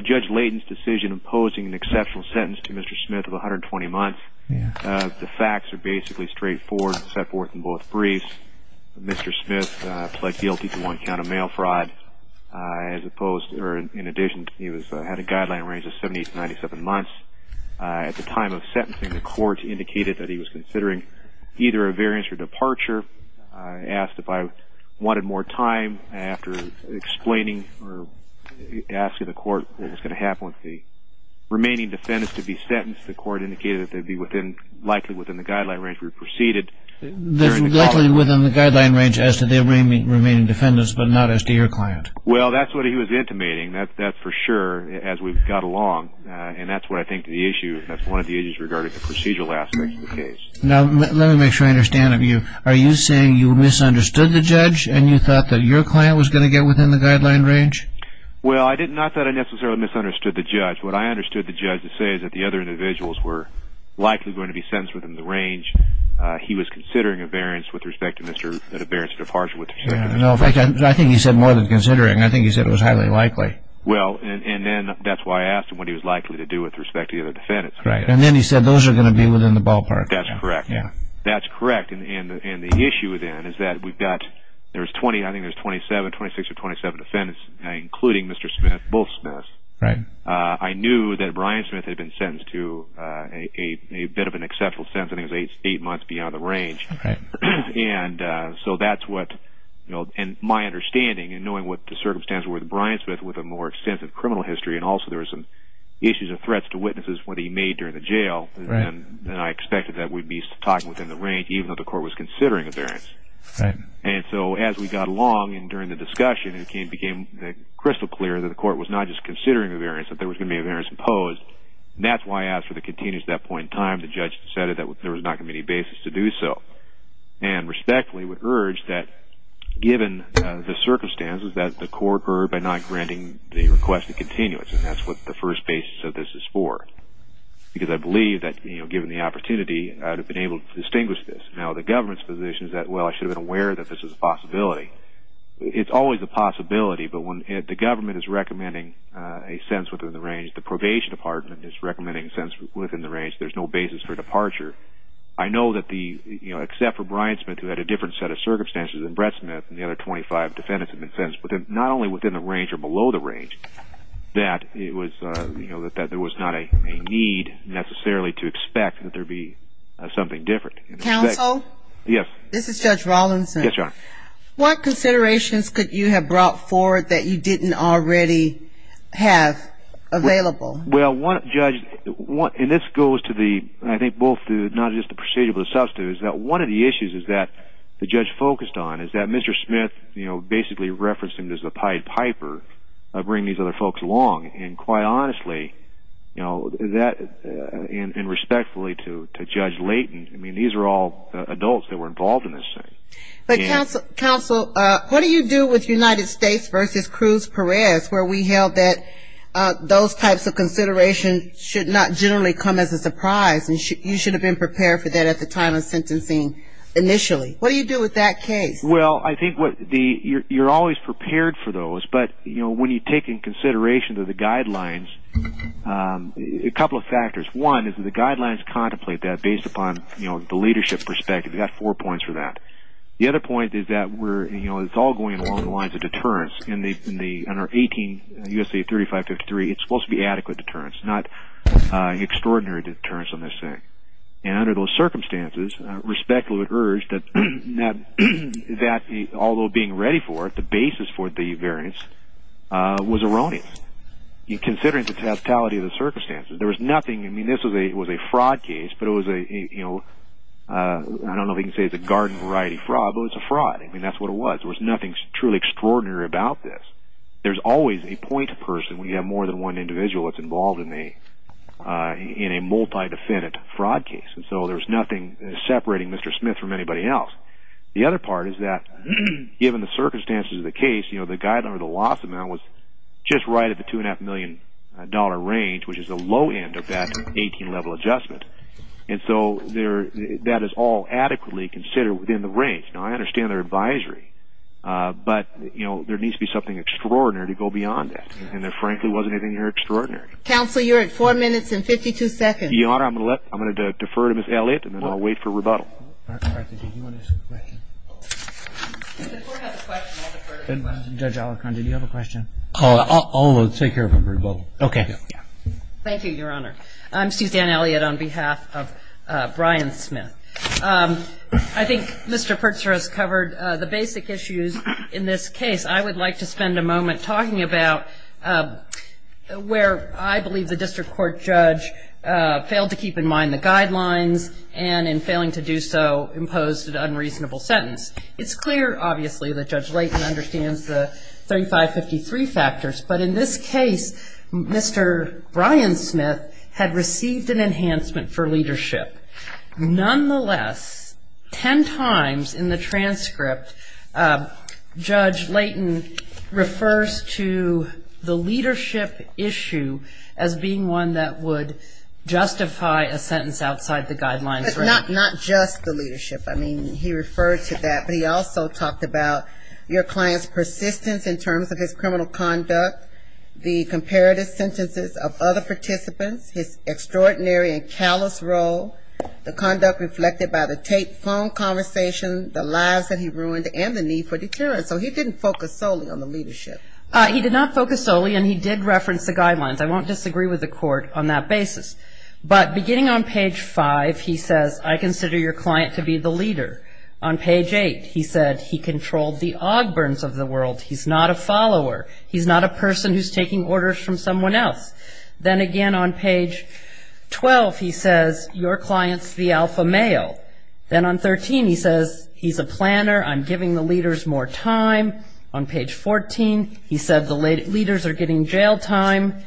Judge Layton's decision imposing an exceptional sentence to Mr. Smith of 120 months, the facts are basically straightforward, set forth in both briefs. Mr. Smith pled guilty to one count of mail fraud. In addition, he had a guideline range of 70 to 97 months. At the time of sentencing, the court indicated that he was considering either a variance or departure. Asked if I wanted more time after explaining or asking the court what was going to happen with the remaining defendants to be sentenced. The court indicated that they would be likely within the guideline range if we proceeded. Likely within the guideline range as to the remaining defendants, but not as to your client. Well, that's what he was intimating, that's for sure, as we got along. And that's what I think the issue, that's one of the issues regarding the procedural aspect of the case. Now, let me make sure I understand, are you saying you misunderstood the judge and you thought that your client was going to get within the guideline range? Well, not that I necessarily misunderstood the judge, what I understood the judge to say is that the other individuals were likely going to be sentenced within the range. He was considering a variance with respect to Mr., a variance of departure with respect to Mr. Smith. I think he said more than considering, I think he said it was highly likely. Well, and then that's why I asked him what he was likely to do with respect to the other defendants. And then he said those are going to be within the ballpark. That's correct. That's correct, and the issue then is that we've got, there's 20, I think there's 27, 26 or 27 defendants, including Mr. Smith, both Smiths. I knew that Brian Smith had been sentenced to a bit of an exceptional sentence, I think it was eight months beyond the range. And so that's what, and my understanding in knowing what the circumstances were with Brian Smith with a more extensive criminal history and also there were some issues and threats to witnesses when he made during the jail, then I expected that we'd be talking within the range even though the court was considering a variance. And so as we got along and during the discussion, it became crystal clear that the court was not just considering a variance, that there was going to be a variance imposed. And that's why I asked for the continuance at that point in time. The judge decided that there was not going to be any basis to do so. And respectfully would urge that given the circumstances that the court heard by not granting the request of continuance, and that's what the first basis of this is for because I believe that, you know, given the opportunity, I would have been able to distinguish this. Now, the government's position is that, well, I should have been aware that this is a possibility. It's always a possibility, but when the government is recommending a sentence within the range, the probation department is recommending a sentence within the range, there's no basis for departure. I know that the, you know, except for Brian Smith who had a different set of circumstances than Brett Smith and the other 25 defendants have been sentenced, but not only within the range or below the range, that it was, you know, that there was not a need necessarily to expect that there be something different. Counsel? This is Judge Rawlinson. Yes, Your Honor. What considerations could you have brought forward that you didn't already have available? Well, Judge, and this goes to the, I think both the, not just the procedural but the substantive, is that one of the issues is that the judge focused on is that Mr. Smith, you know, basically referenced him as a pied piper of bringing these other folks along. And quite honestly, you know, that and respectfully to Judge Layton, I mean, these are all adults that were involved in this thing. But, Counsel, what do you do with United States versus Cruz Perez, where we held that those types of considerations should not generally come as a surprise and you should have been prepared for that at the time of sentencing initially? What do you do with that case? Well, I think what the, you're always prepared for those, but, you know, when you take into consideration the guidelines, a couple of factors. One is that the guidelines contemplate that based upon, you know, the leadership perspective. We've got four points for that. The other point is that we're, you know, it's all going along the lines of deterrence. In our 18 U.S.C.A. 3553, it's supposed to be adequate deterrence, not extraordinary deterrence on this thing. And under those circumstances, respectfully we would urge that although being ready for it, the basis for the variance was erroneous. Considering the tactility of the circumstances, there was nothing, I mean, this was a fraud case, but it was a, you know, I don't know if you can say it's a garden variety fraud, but it was a fraud. I mean, that's what it was. There was nothing truly extraordinary about this. There's always a point person when you have more than one individual that's involved in a multi-defendant fraud case. And so there was nothing separating Mr. Smith from anybody else. The other part is that given the circumstances of the case, you know, the guideline or the loss amount was just right at the $2.5 million range, which is the low end of that 18-level adjustment. And so that is all adequately considered within the range. Now, I understand their advisory, but, you know, there needs to be something extraordinary to go beyond that. And there frankly wasn't anything extraordinary. Counsel, you're at four minutes and 52 seconds. Your Honor, I'm going to defer to Ms. Elliott, and then I'll wait for rebuttal. Judge Alicorn, did you have a question? I'll take care of it for rebuttal. Okay. Thank you, Your Honor. I'm Suzanne Elliott on behalf of Brian Smith. I think Mr. Pertzer has covered the basic issues in this case. I would like to spend a moment talking about where I believe the district court judge failed to keep in mind the guidelines and in failing to do so imposed an unreasonable sentence. It's clear, obviously, that Judge Layton understands the 3553 factors. But in this case, Mr. Brian Smith had received an enhancement for leadership. Nonetheless, ten times in the transcript, Judge Layton refers to the leadership issue as being one that would justify a sentence outside the guidelines. Not just the leadership. I mean, he referred to that. But he also talked about your client's persistence in terms of his criminal conduct, the comparative sentences of other participants, his extraordinary and callous role, the conduct reflected by the tape phone conversation, the lives that he ruined, and the need for deterrence. So he didn't focus solely on the leadership. He did not focus solely, and he did reference the guidelines. I won't disagree with the court on that basis. But beginning on page 5, he says, I consider your client to be the leader. On page 8, he said, he controlled the Ogburns of the world. He's not a follower. He's not a person who's taking orders from someone else. Then again on page 12, he says, your client's the alpha male. Then on 13, he says, he's a planner. I'm giving the leaders more time. On page 14, he said the leaders are getting jail time.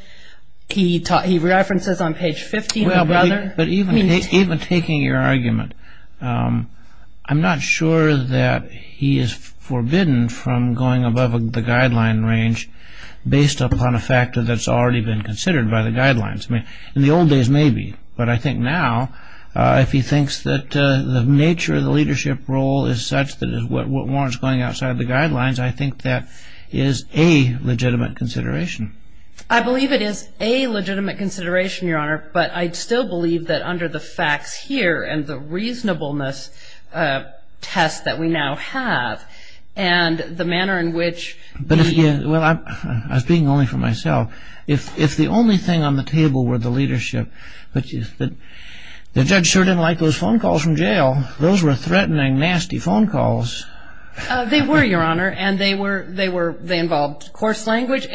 He references on page 15 the brother. Even taking your argument, I'm not sure that he is forbidden from going above the guideline range based upon a factor that's already been considered by the guidelines. In the old days, maybe. But I think now, if he thinks that the nature of the leadership role is such that it warrants going outside the guidelines, I think that is a legitimate consideration. I believe it is a legitimate consideration, Your Honor. But I still believe that under the facts here and the reasonableness test that we now have and the manner in which the- Well, I'm speaking only for myself. If the only thing on the table were the leadership, the judge sure didn't like those phone calls from jail. Those were threatening, nasty phone calls. They were, Your Honor. And they involved coarse language.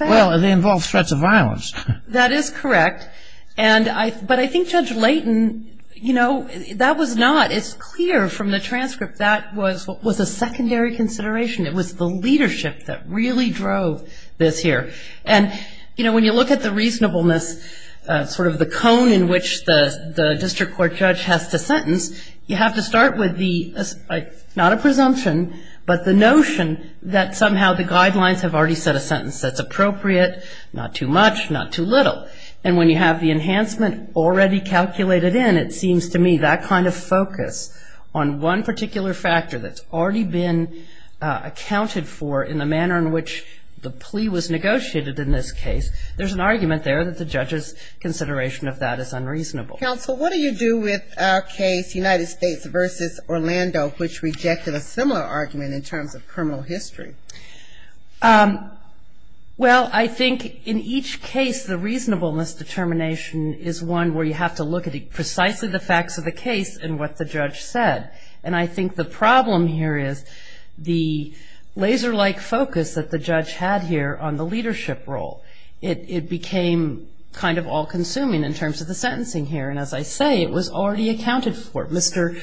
Well, they involved threats of violence. That is correct. But I think Judge Layton, you know, that was not as clear from the transcript. That was a secondary consideration. It was the leadership that really drove this here. And, you know, when you look at the reasonableness, sort of the cone in which the district court judge has to sentence, you have to start with the, not a presumption, but the notion that somehow the guidelines have already set a sentence that's appropriate, not too much, not too little. And when you have the enhancement already calculated in, it seems to me that kind of focus on one particular factor that's already been accounted for in the manner in which the plea was negotiated in this case, there's an argument there that the judge's consideration of that is unreasonable. Counsel, what do you do with our case, United States v. Orlando, which rejected a similar argument in terms of criminal history? Well, I think in each case, the reasonableness determination is one where you have to look at precisely the facts of the case and what the judge said. And I think the problem here is the laser-like focus that the judge had here on the leadership role. It became kind of all-consuming in terms of the sentencing here. And as I say, it was already accounted for. Mr.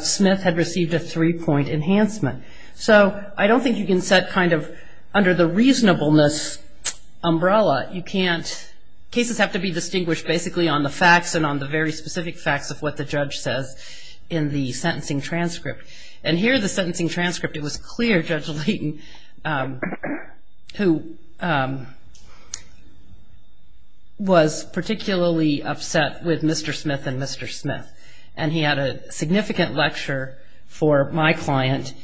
Smith had received a three-point enhancement. So I don't think you can set kind of under the reasonableness umbrella. You can't. Cases have to be distinguished basically on the facts and on the very specific facts of what the judge says in the sentencing transcript. And here, the sentencing transcript, it was clear Judge Layton, who was particularly upset with Mr. Smith and Mr. Smith, and he had a significant lecture for my client,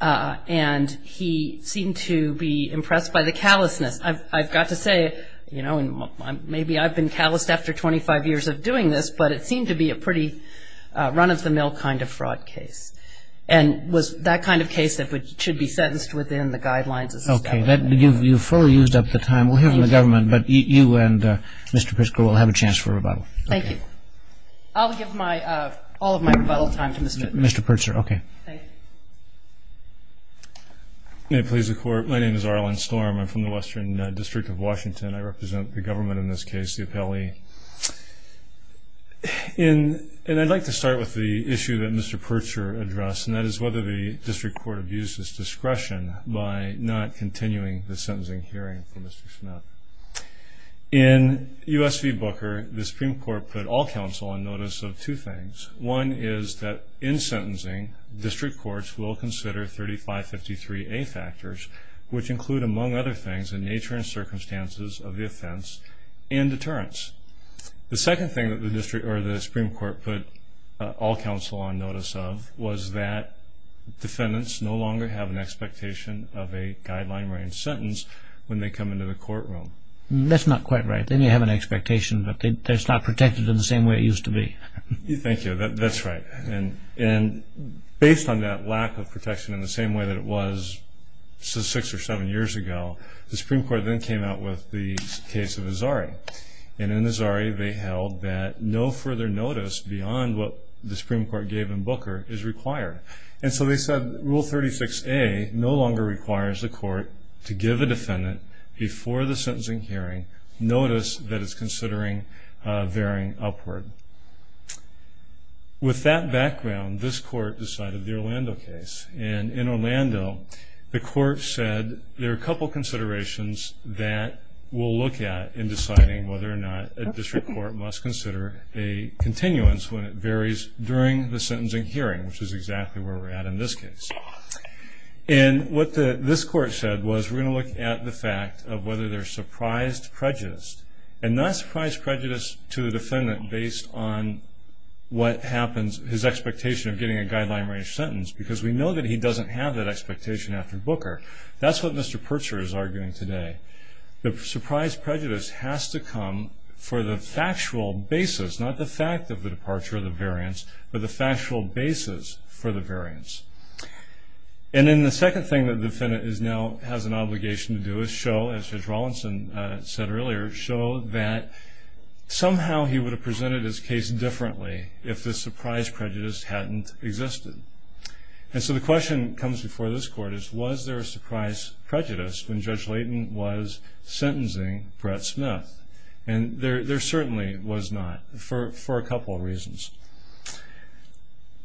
and he seemed to be impressed by the callousness. I've got to say, you know, maybe I've been calloused after 25 years of doing this, but it seemed to be a pretty run-of-the-mill kind of fraud case. And was that kind of case that should be sentenced within the guidelines of the statute. Okay. You've fully used up the time. We'll hear from the government, but you and Mr. Pritzker will have a chance for a rebuttal. Thank you. I'll give all of my rebuttal time to Mr. Pritzker. Mr. Pritzker, okay. Thank you. May it please the Court, my name is Arlen Storm. I'm from the Western District of Washington. I represent the government in this case, the appellee. And I'd like to start with the issue that Mr. Pritzker addressed, and that is whether the district court abuses discretion by not continuing the sentencing hearing for Mr. Smith. In U.S. v. Booker, the Supreme Court put all counsel on notice of two things. One is that in sentencing, district courts will consider 3553A factors, which include, among other things, the nature and circumstances of the offense and deterrence. The second thing that the Supreme Court put all counsel on notice of was that defendants no longer have an expectation of a guideline-range sentence when they come into the courtroom. That's not quite right. They may have an expectation, but it's not protected in the same way it used to be. Thank you. That's right. And based on that lack of protection in the same way that it was six or seven years ago, the Supreme Court then came out with the case of Azari. And in Azari, they held that no further notice beyond what the Supreme Court gave in Booker is required. And so they said Rule 36A no longer requires the court to give a defendant, before the sentencing hearing, notice that it's considering varying upward. With that background, this court decided the Orlando case. And in Orlando, the court said, there are a couple considerations that we'll look at in deciding whether or not a district court must consider a continuance when it varies during the sentencing hearing, which is exactly where we're at in this case. And what this court said was, we're going to look at the fact of whether there's surprised prejudice, and not surprised prejudice to the defendant based on what happens, his expectation of getting a guideline range sentence, because we know that he doesn't have that expectation after Booker. That's what Mr. Purcher is arguing today. The surprised prejudice has to come for the factual basis, not the fact of the departure of the variance, but the factual basis for the variance. And then the second thing that the defendant now has an obligation to do is show, as Judge Rawlinson said earlier, show that somehow he would have presented his case differently if the surprised prejudice hadn't existed. And so the question that comes before this court is, was there a surprised prejudice when Judge Layton was sentencing Brett Smith? And there certainly was not, for a couple of reasons.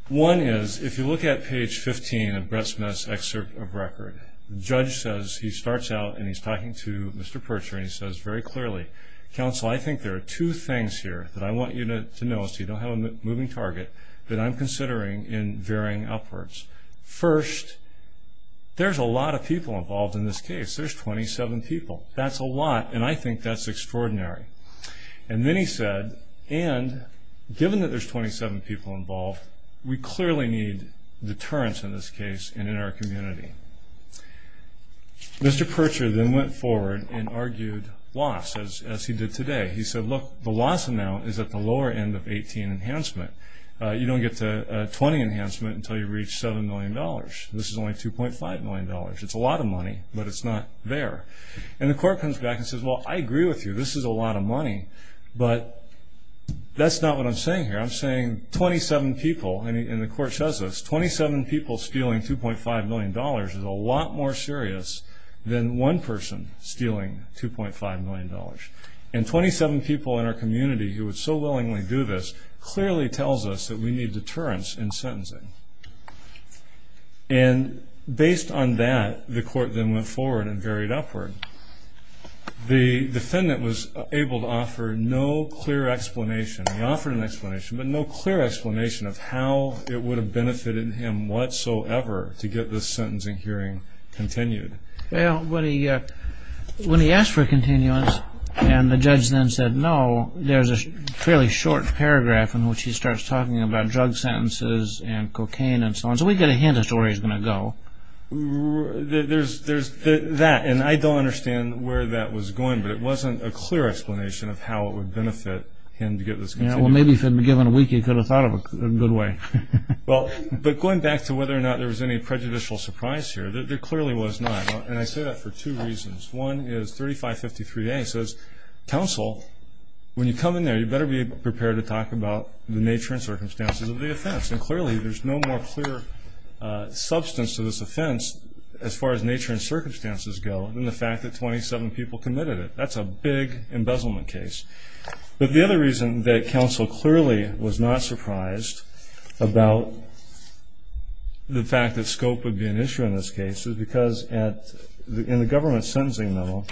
One is, if you look at page 15 of Brett Smith's excerpt of record, the judge says, he starts out and he's talking to Mr. Purcher, and he says very clearly, counsel, I think there are two things here that I want you to know, so you don't have a moving target, that I'm considering in varying upwards. First, there's a lot of people involved in this case. There's 27 people. That's a lot, and I think that's extraordinary. And then he said, and given that there's 27 people involved, we clearly need deterrence in this case and in our community. Mr. Purcher then went forward and argued loss, as he did today. He said, look, the loss amount is at the lower end of 18 enhancement. You don't get to 20 enhancement until you reach $7 million. This is only $2.5 million. It's a lot of money, but it's not there. And the court comes back and says, well, I agree with you. This is a lot of money, but that's not what I'm saying here. I'm saying 27 people, and the court says this, 27 people stealing $2.5 million is a lot more serious than one person stealing $2.5 million. And 27 people in our community who would so willingly do this clearly tells us that we need deterrence in sentencing. And based on that, the court then went forward and varied upward. The defendant was able to offer no clear explanation. He offered an explanation, but no clear explanation of how it would have benefited him whatsoever to get this sentencing hearing continued. Well, when he asked for a continuance and the judge then said no, there's a fairly short paragraph in which he starts talking about drug sentences and cocaine and so on. So we get a hint as to where he's going to go. There's that, and I don't understand where that was going, but it wasn't a clear explanation of how it would benefit him to get this. Well, maybe if he had been given a week, he could have thought of it a good way. But going back to whether or not there was any prejudicial surprise here, there clearly was not, and I say that for two reasons. One is 3553A says, Council, when you come in there, you better be prepared to talk about the nature and circumstances of the offense. And clearly there's no more clear substance to this offense as far as nature and circumstances go than the fact that 27 people committed it. That's a big embezzlement case. But the other reason that Council clearly was not surprised about the fact that scope would be an issue in this case is because in the government sentencing memo,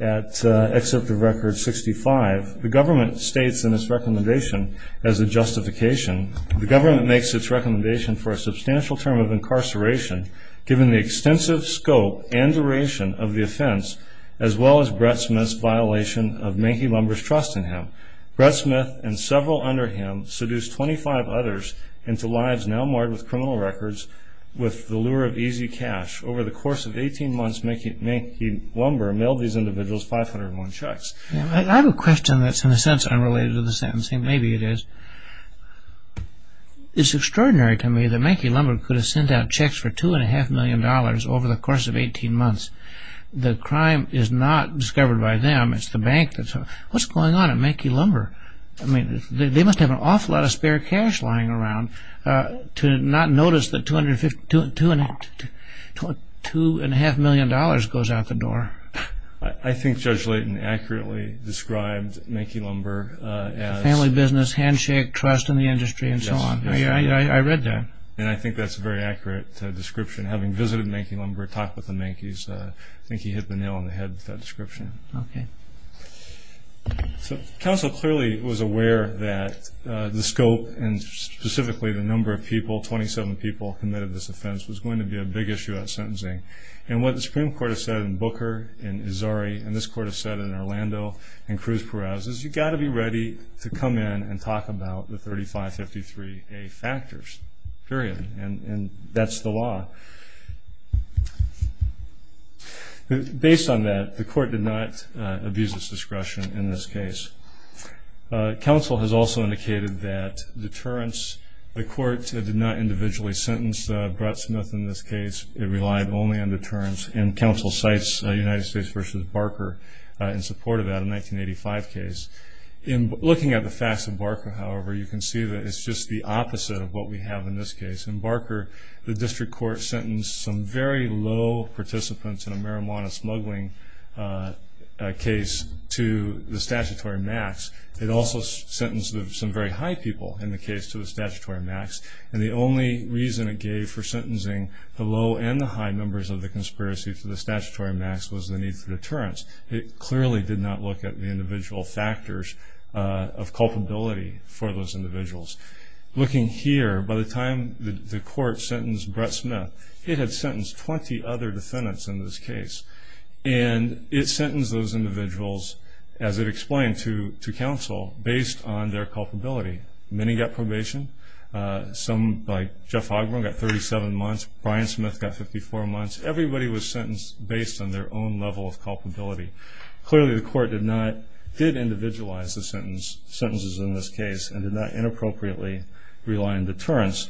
at Excerpt of Record 65, the government states in its recommendation as a justification, the government makes its recommendation for a substantial term of incarceration given the extensive scope and duration of the offense as well as Brett Smith's violation of Manky Lumber's trust in him. Brett Smith and several under him seduced 25 others into lives now marred with criminal records with the lure of easy cash. Over the course of 18 months, Manky Lumber mailed these individuals 501 checks. I have a question that's in a sense unrelated to the sentencing. Maybe it is. It's extraordinary to me that Manky Lumber could have sent out checks for $2.5 million over the course of 18 months. The crime is not discovered by them. It's the bank. What's going on at Manky Lumber? They must have an awful lot of spare cash lying around to not notice that $2.5 million goes out the door. I think Judge Layton accurately described Manky Lumber as... Yes. I read that. I think that's a very accurate description. Having visited Manky Lumber, talked with the Mankys, I think he hit the nail on the head with that description. Okay. Counsel clearly was aware that the scope and specifically the number of people, 27 people, committed this offense was going to be a big issue at sentencing. And what the Supreme Court has said in Booker and Azari and this Court has said in Orlando and Cruz-Perez is you've got to be ready to come in and talk about the 3553A factors, period. And that's the law. Based on that, the Court did not abuse its discretion in this case. Counsel has also indicated that deterrence, the Court did not individually sentence Brutsmith in this case. It relied only on deterrence. And counsel cites United States v. Barker in support of that, a 1985 case. Looking at the facts of Barker, however, you can see that it's just the opposite of what we have in this case. In Barker, the District Court sentenced some very low participants in a marijuana smuggling case to the statutory max. It also sentenced some very high people in the case to the statutory max. And the only reason it gave for sentencing the low and the high members of the conspiracy to the statutory max was the need for deterrence. It clearly did not look at the individual factors of culpability for those individuals. Looking here, by the time the Court sentenced Brutsmith, it had sentenced 20 other defendants in this case. And it sentenced those individuals, as it explained to counsel, based on their culpability. Many got probation. Some, like Jeff Ogburn, got 37 months. Brian Smith got 54 months. Everybody was sentenced based on their own level of culpability. Clearly, the Court did individualize the sentences in this case and did not inappropriately rely on deterrence.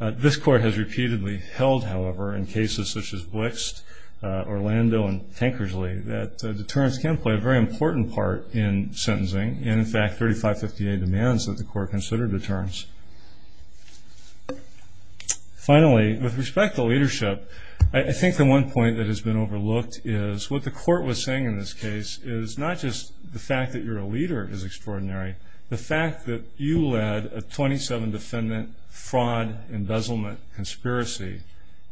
This Court has repeatedly held, however, in cases such as Blixt, Orlando, and Tankersley, that deterrence can play a very important part in sentencing. And, in fact, 3558 demands that the Court consider deterrence. Finally, with respect to leadership, I think the one point that has been overlooked is what the Court was saying in this case is not just the fact that you're a leader is extraordinary. The fact that you led a 27-defendant fraud, embezzlement conspiracy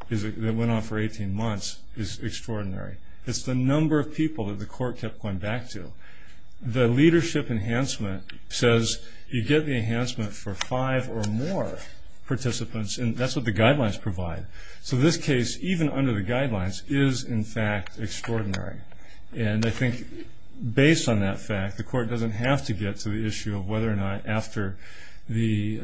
that went on for 18 months is extraordinary. It's the number of people that the Court kept going back to. The leadership enhancement says you get the enhancement for five or more participants, and that's what the guidelines provide. So this case, even under the guidelines, is, in fact, extraordinary. And I think, based on that fact, the Court doesn't have to get to the issue of whether or not after the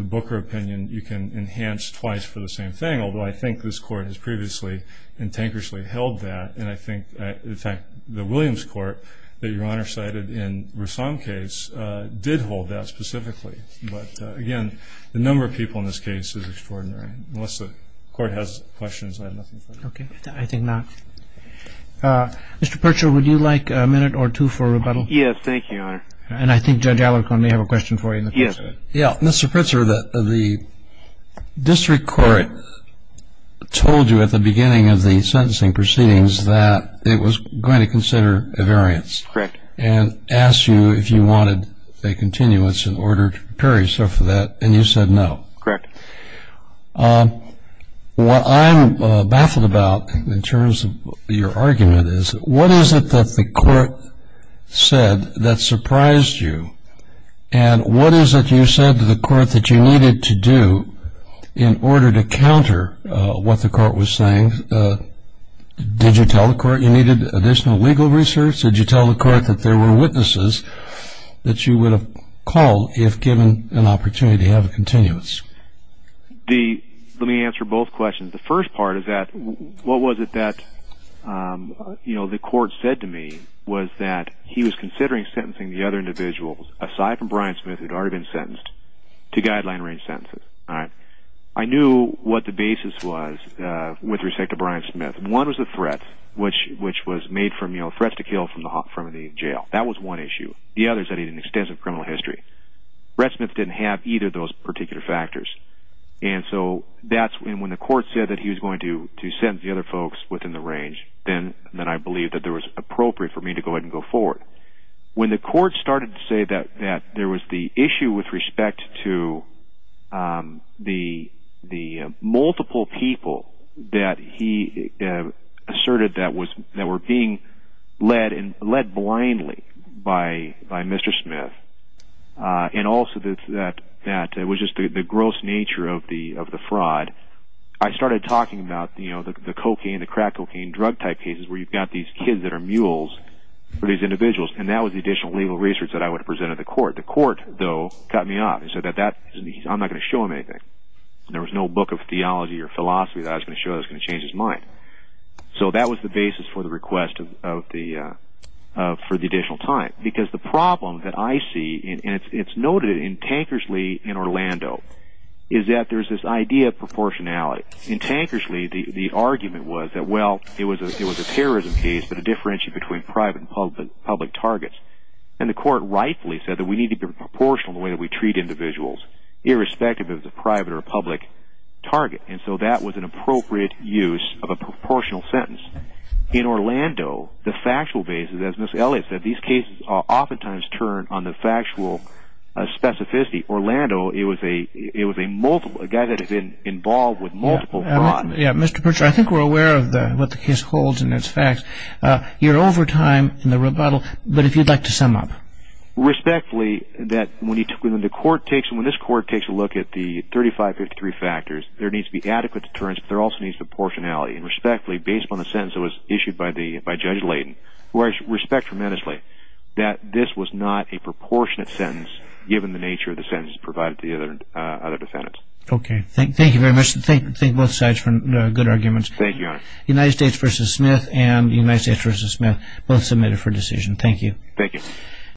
Booker opinion you can enhance twice for the same thing, although I think this Court has previously in Tankersley held that. And I think, in fact, the Williams Court that Your Honor cited in Rassam's case did hold that specifically. But, again, the number of people in this case is extraordinary. Unless the Court has questions, I have nothing further to say. Okay. I think not. Mr. Pritzker, would you like a minute or two for rebuttal? Yes, thank you, Your Honor. And I think Judge Alicorn may have a question for you. Yes. Mr. Pritzker, the district court told you at the beginning of the sentencing proceedings that it was going to consider a variance. Correct. And asked you if you wanted a continuance in order to prepare yourself for that, and you said no. Correct. What I'm baffled about in terms of your argument is, what is it that the court said that surprised you? And what is it you said to the court that you needed to do in order to counter what the court was saying? Did you tell the court you needed additional legal research? Did you tell the court that there were witnesses that you would have called if given an opportunity to have a continuance? Let me answer both questions. The first part is, what was it that the court said to me was that he was considering sentencing the other individuals, aside from Brian Smith, who had already been sentenced, to guideline-range sentences. I knew what the basis was with respect to Brian Smith. One was the threat, which was made from threats to kill from the jail. That was one issue. The other is that he had an extensive criminal history. Brett Smith didn't have either of those particular factors. When the court said that he was going to sentence the other folks within the range, then I believed that it was appropriate for me to go ahead and go forward. When the court started to say that there was the issue with respect to the multiple people that he asserted that were being led blindly by Mr. Smith, and also that it was just the gross nature of the fraud, I started talking about the cocaine, the crack cocaine drug type cases, where you've got these kids that are mules for these individuals. That was the additional legal research that I would have presented to the court. The court, though, cut me off and said, I'm not going to show him anything. There was no book of theology or philosophy that I was going to show that was going to change his mind. That was the basis for the request for the additional time. The problem that I see, and it's noted in Tankersley in Orlando, is that there's this idea of proportionality. In Tankersley, the argument was that it was a terrorism case, but it differentiated between private and public targets. The court rightfully said that we need to be proportional in the way that we treat individuals, irrespective of if it's a private or a public target. That was an appropriate use of a proportional sentence. In Orlando, the factual basis, as Ms. Elliott said, these cases oftentimes turn on the factual specificity. Orlando, it was a guy that had been involved with multiple crimes. Mr. Purcher, I think we're aware of what the case holds and its facts. You're over time in the rebuttal, but if you'd like to sum up. Respectfully, when this court takes a look at the 3553 factors, there needs to be adequate deterrence, but there also needs to be proportionality. Respectfully, based on the sentence that was issued by Judge Layden, who I respect tremendously, that this was not a proportionate sentence, given the nature of the sentence provided to the other defendants. Okay. Thank you very much. Thank both sides for good arguments. Thank you, Your Honor. United States v. Smith and United States v. Smith, both submitted for decision. Thank you. Thank you.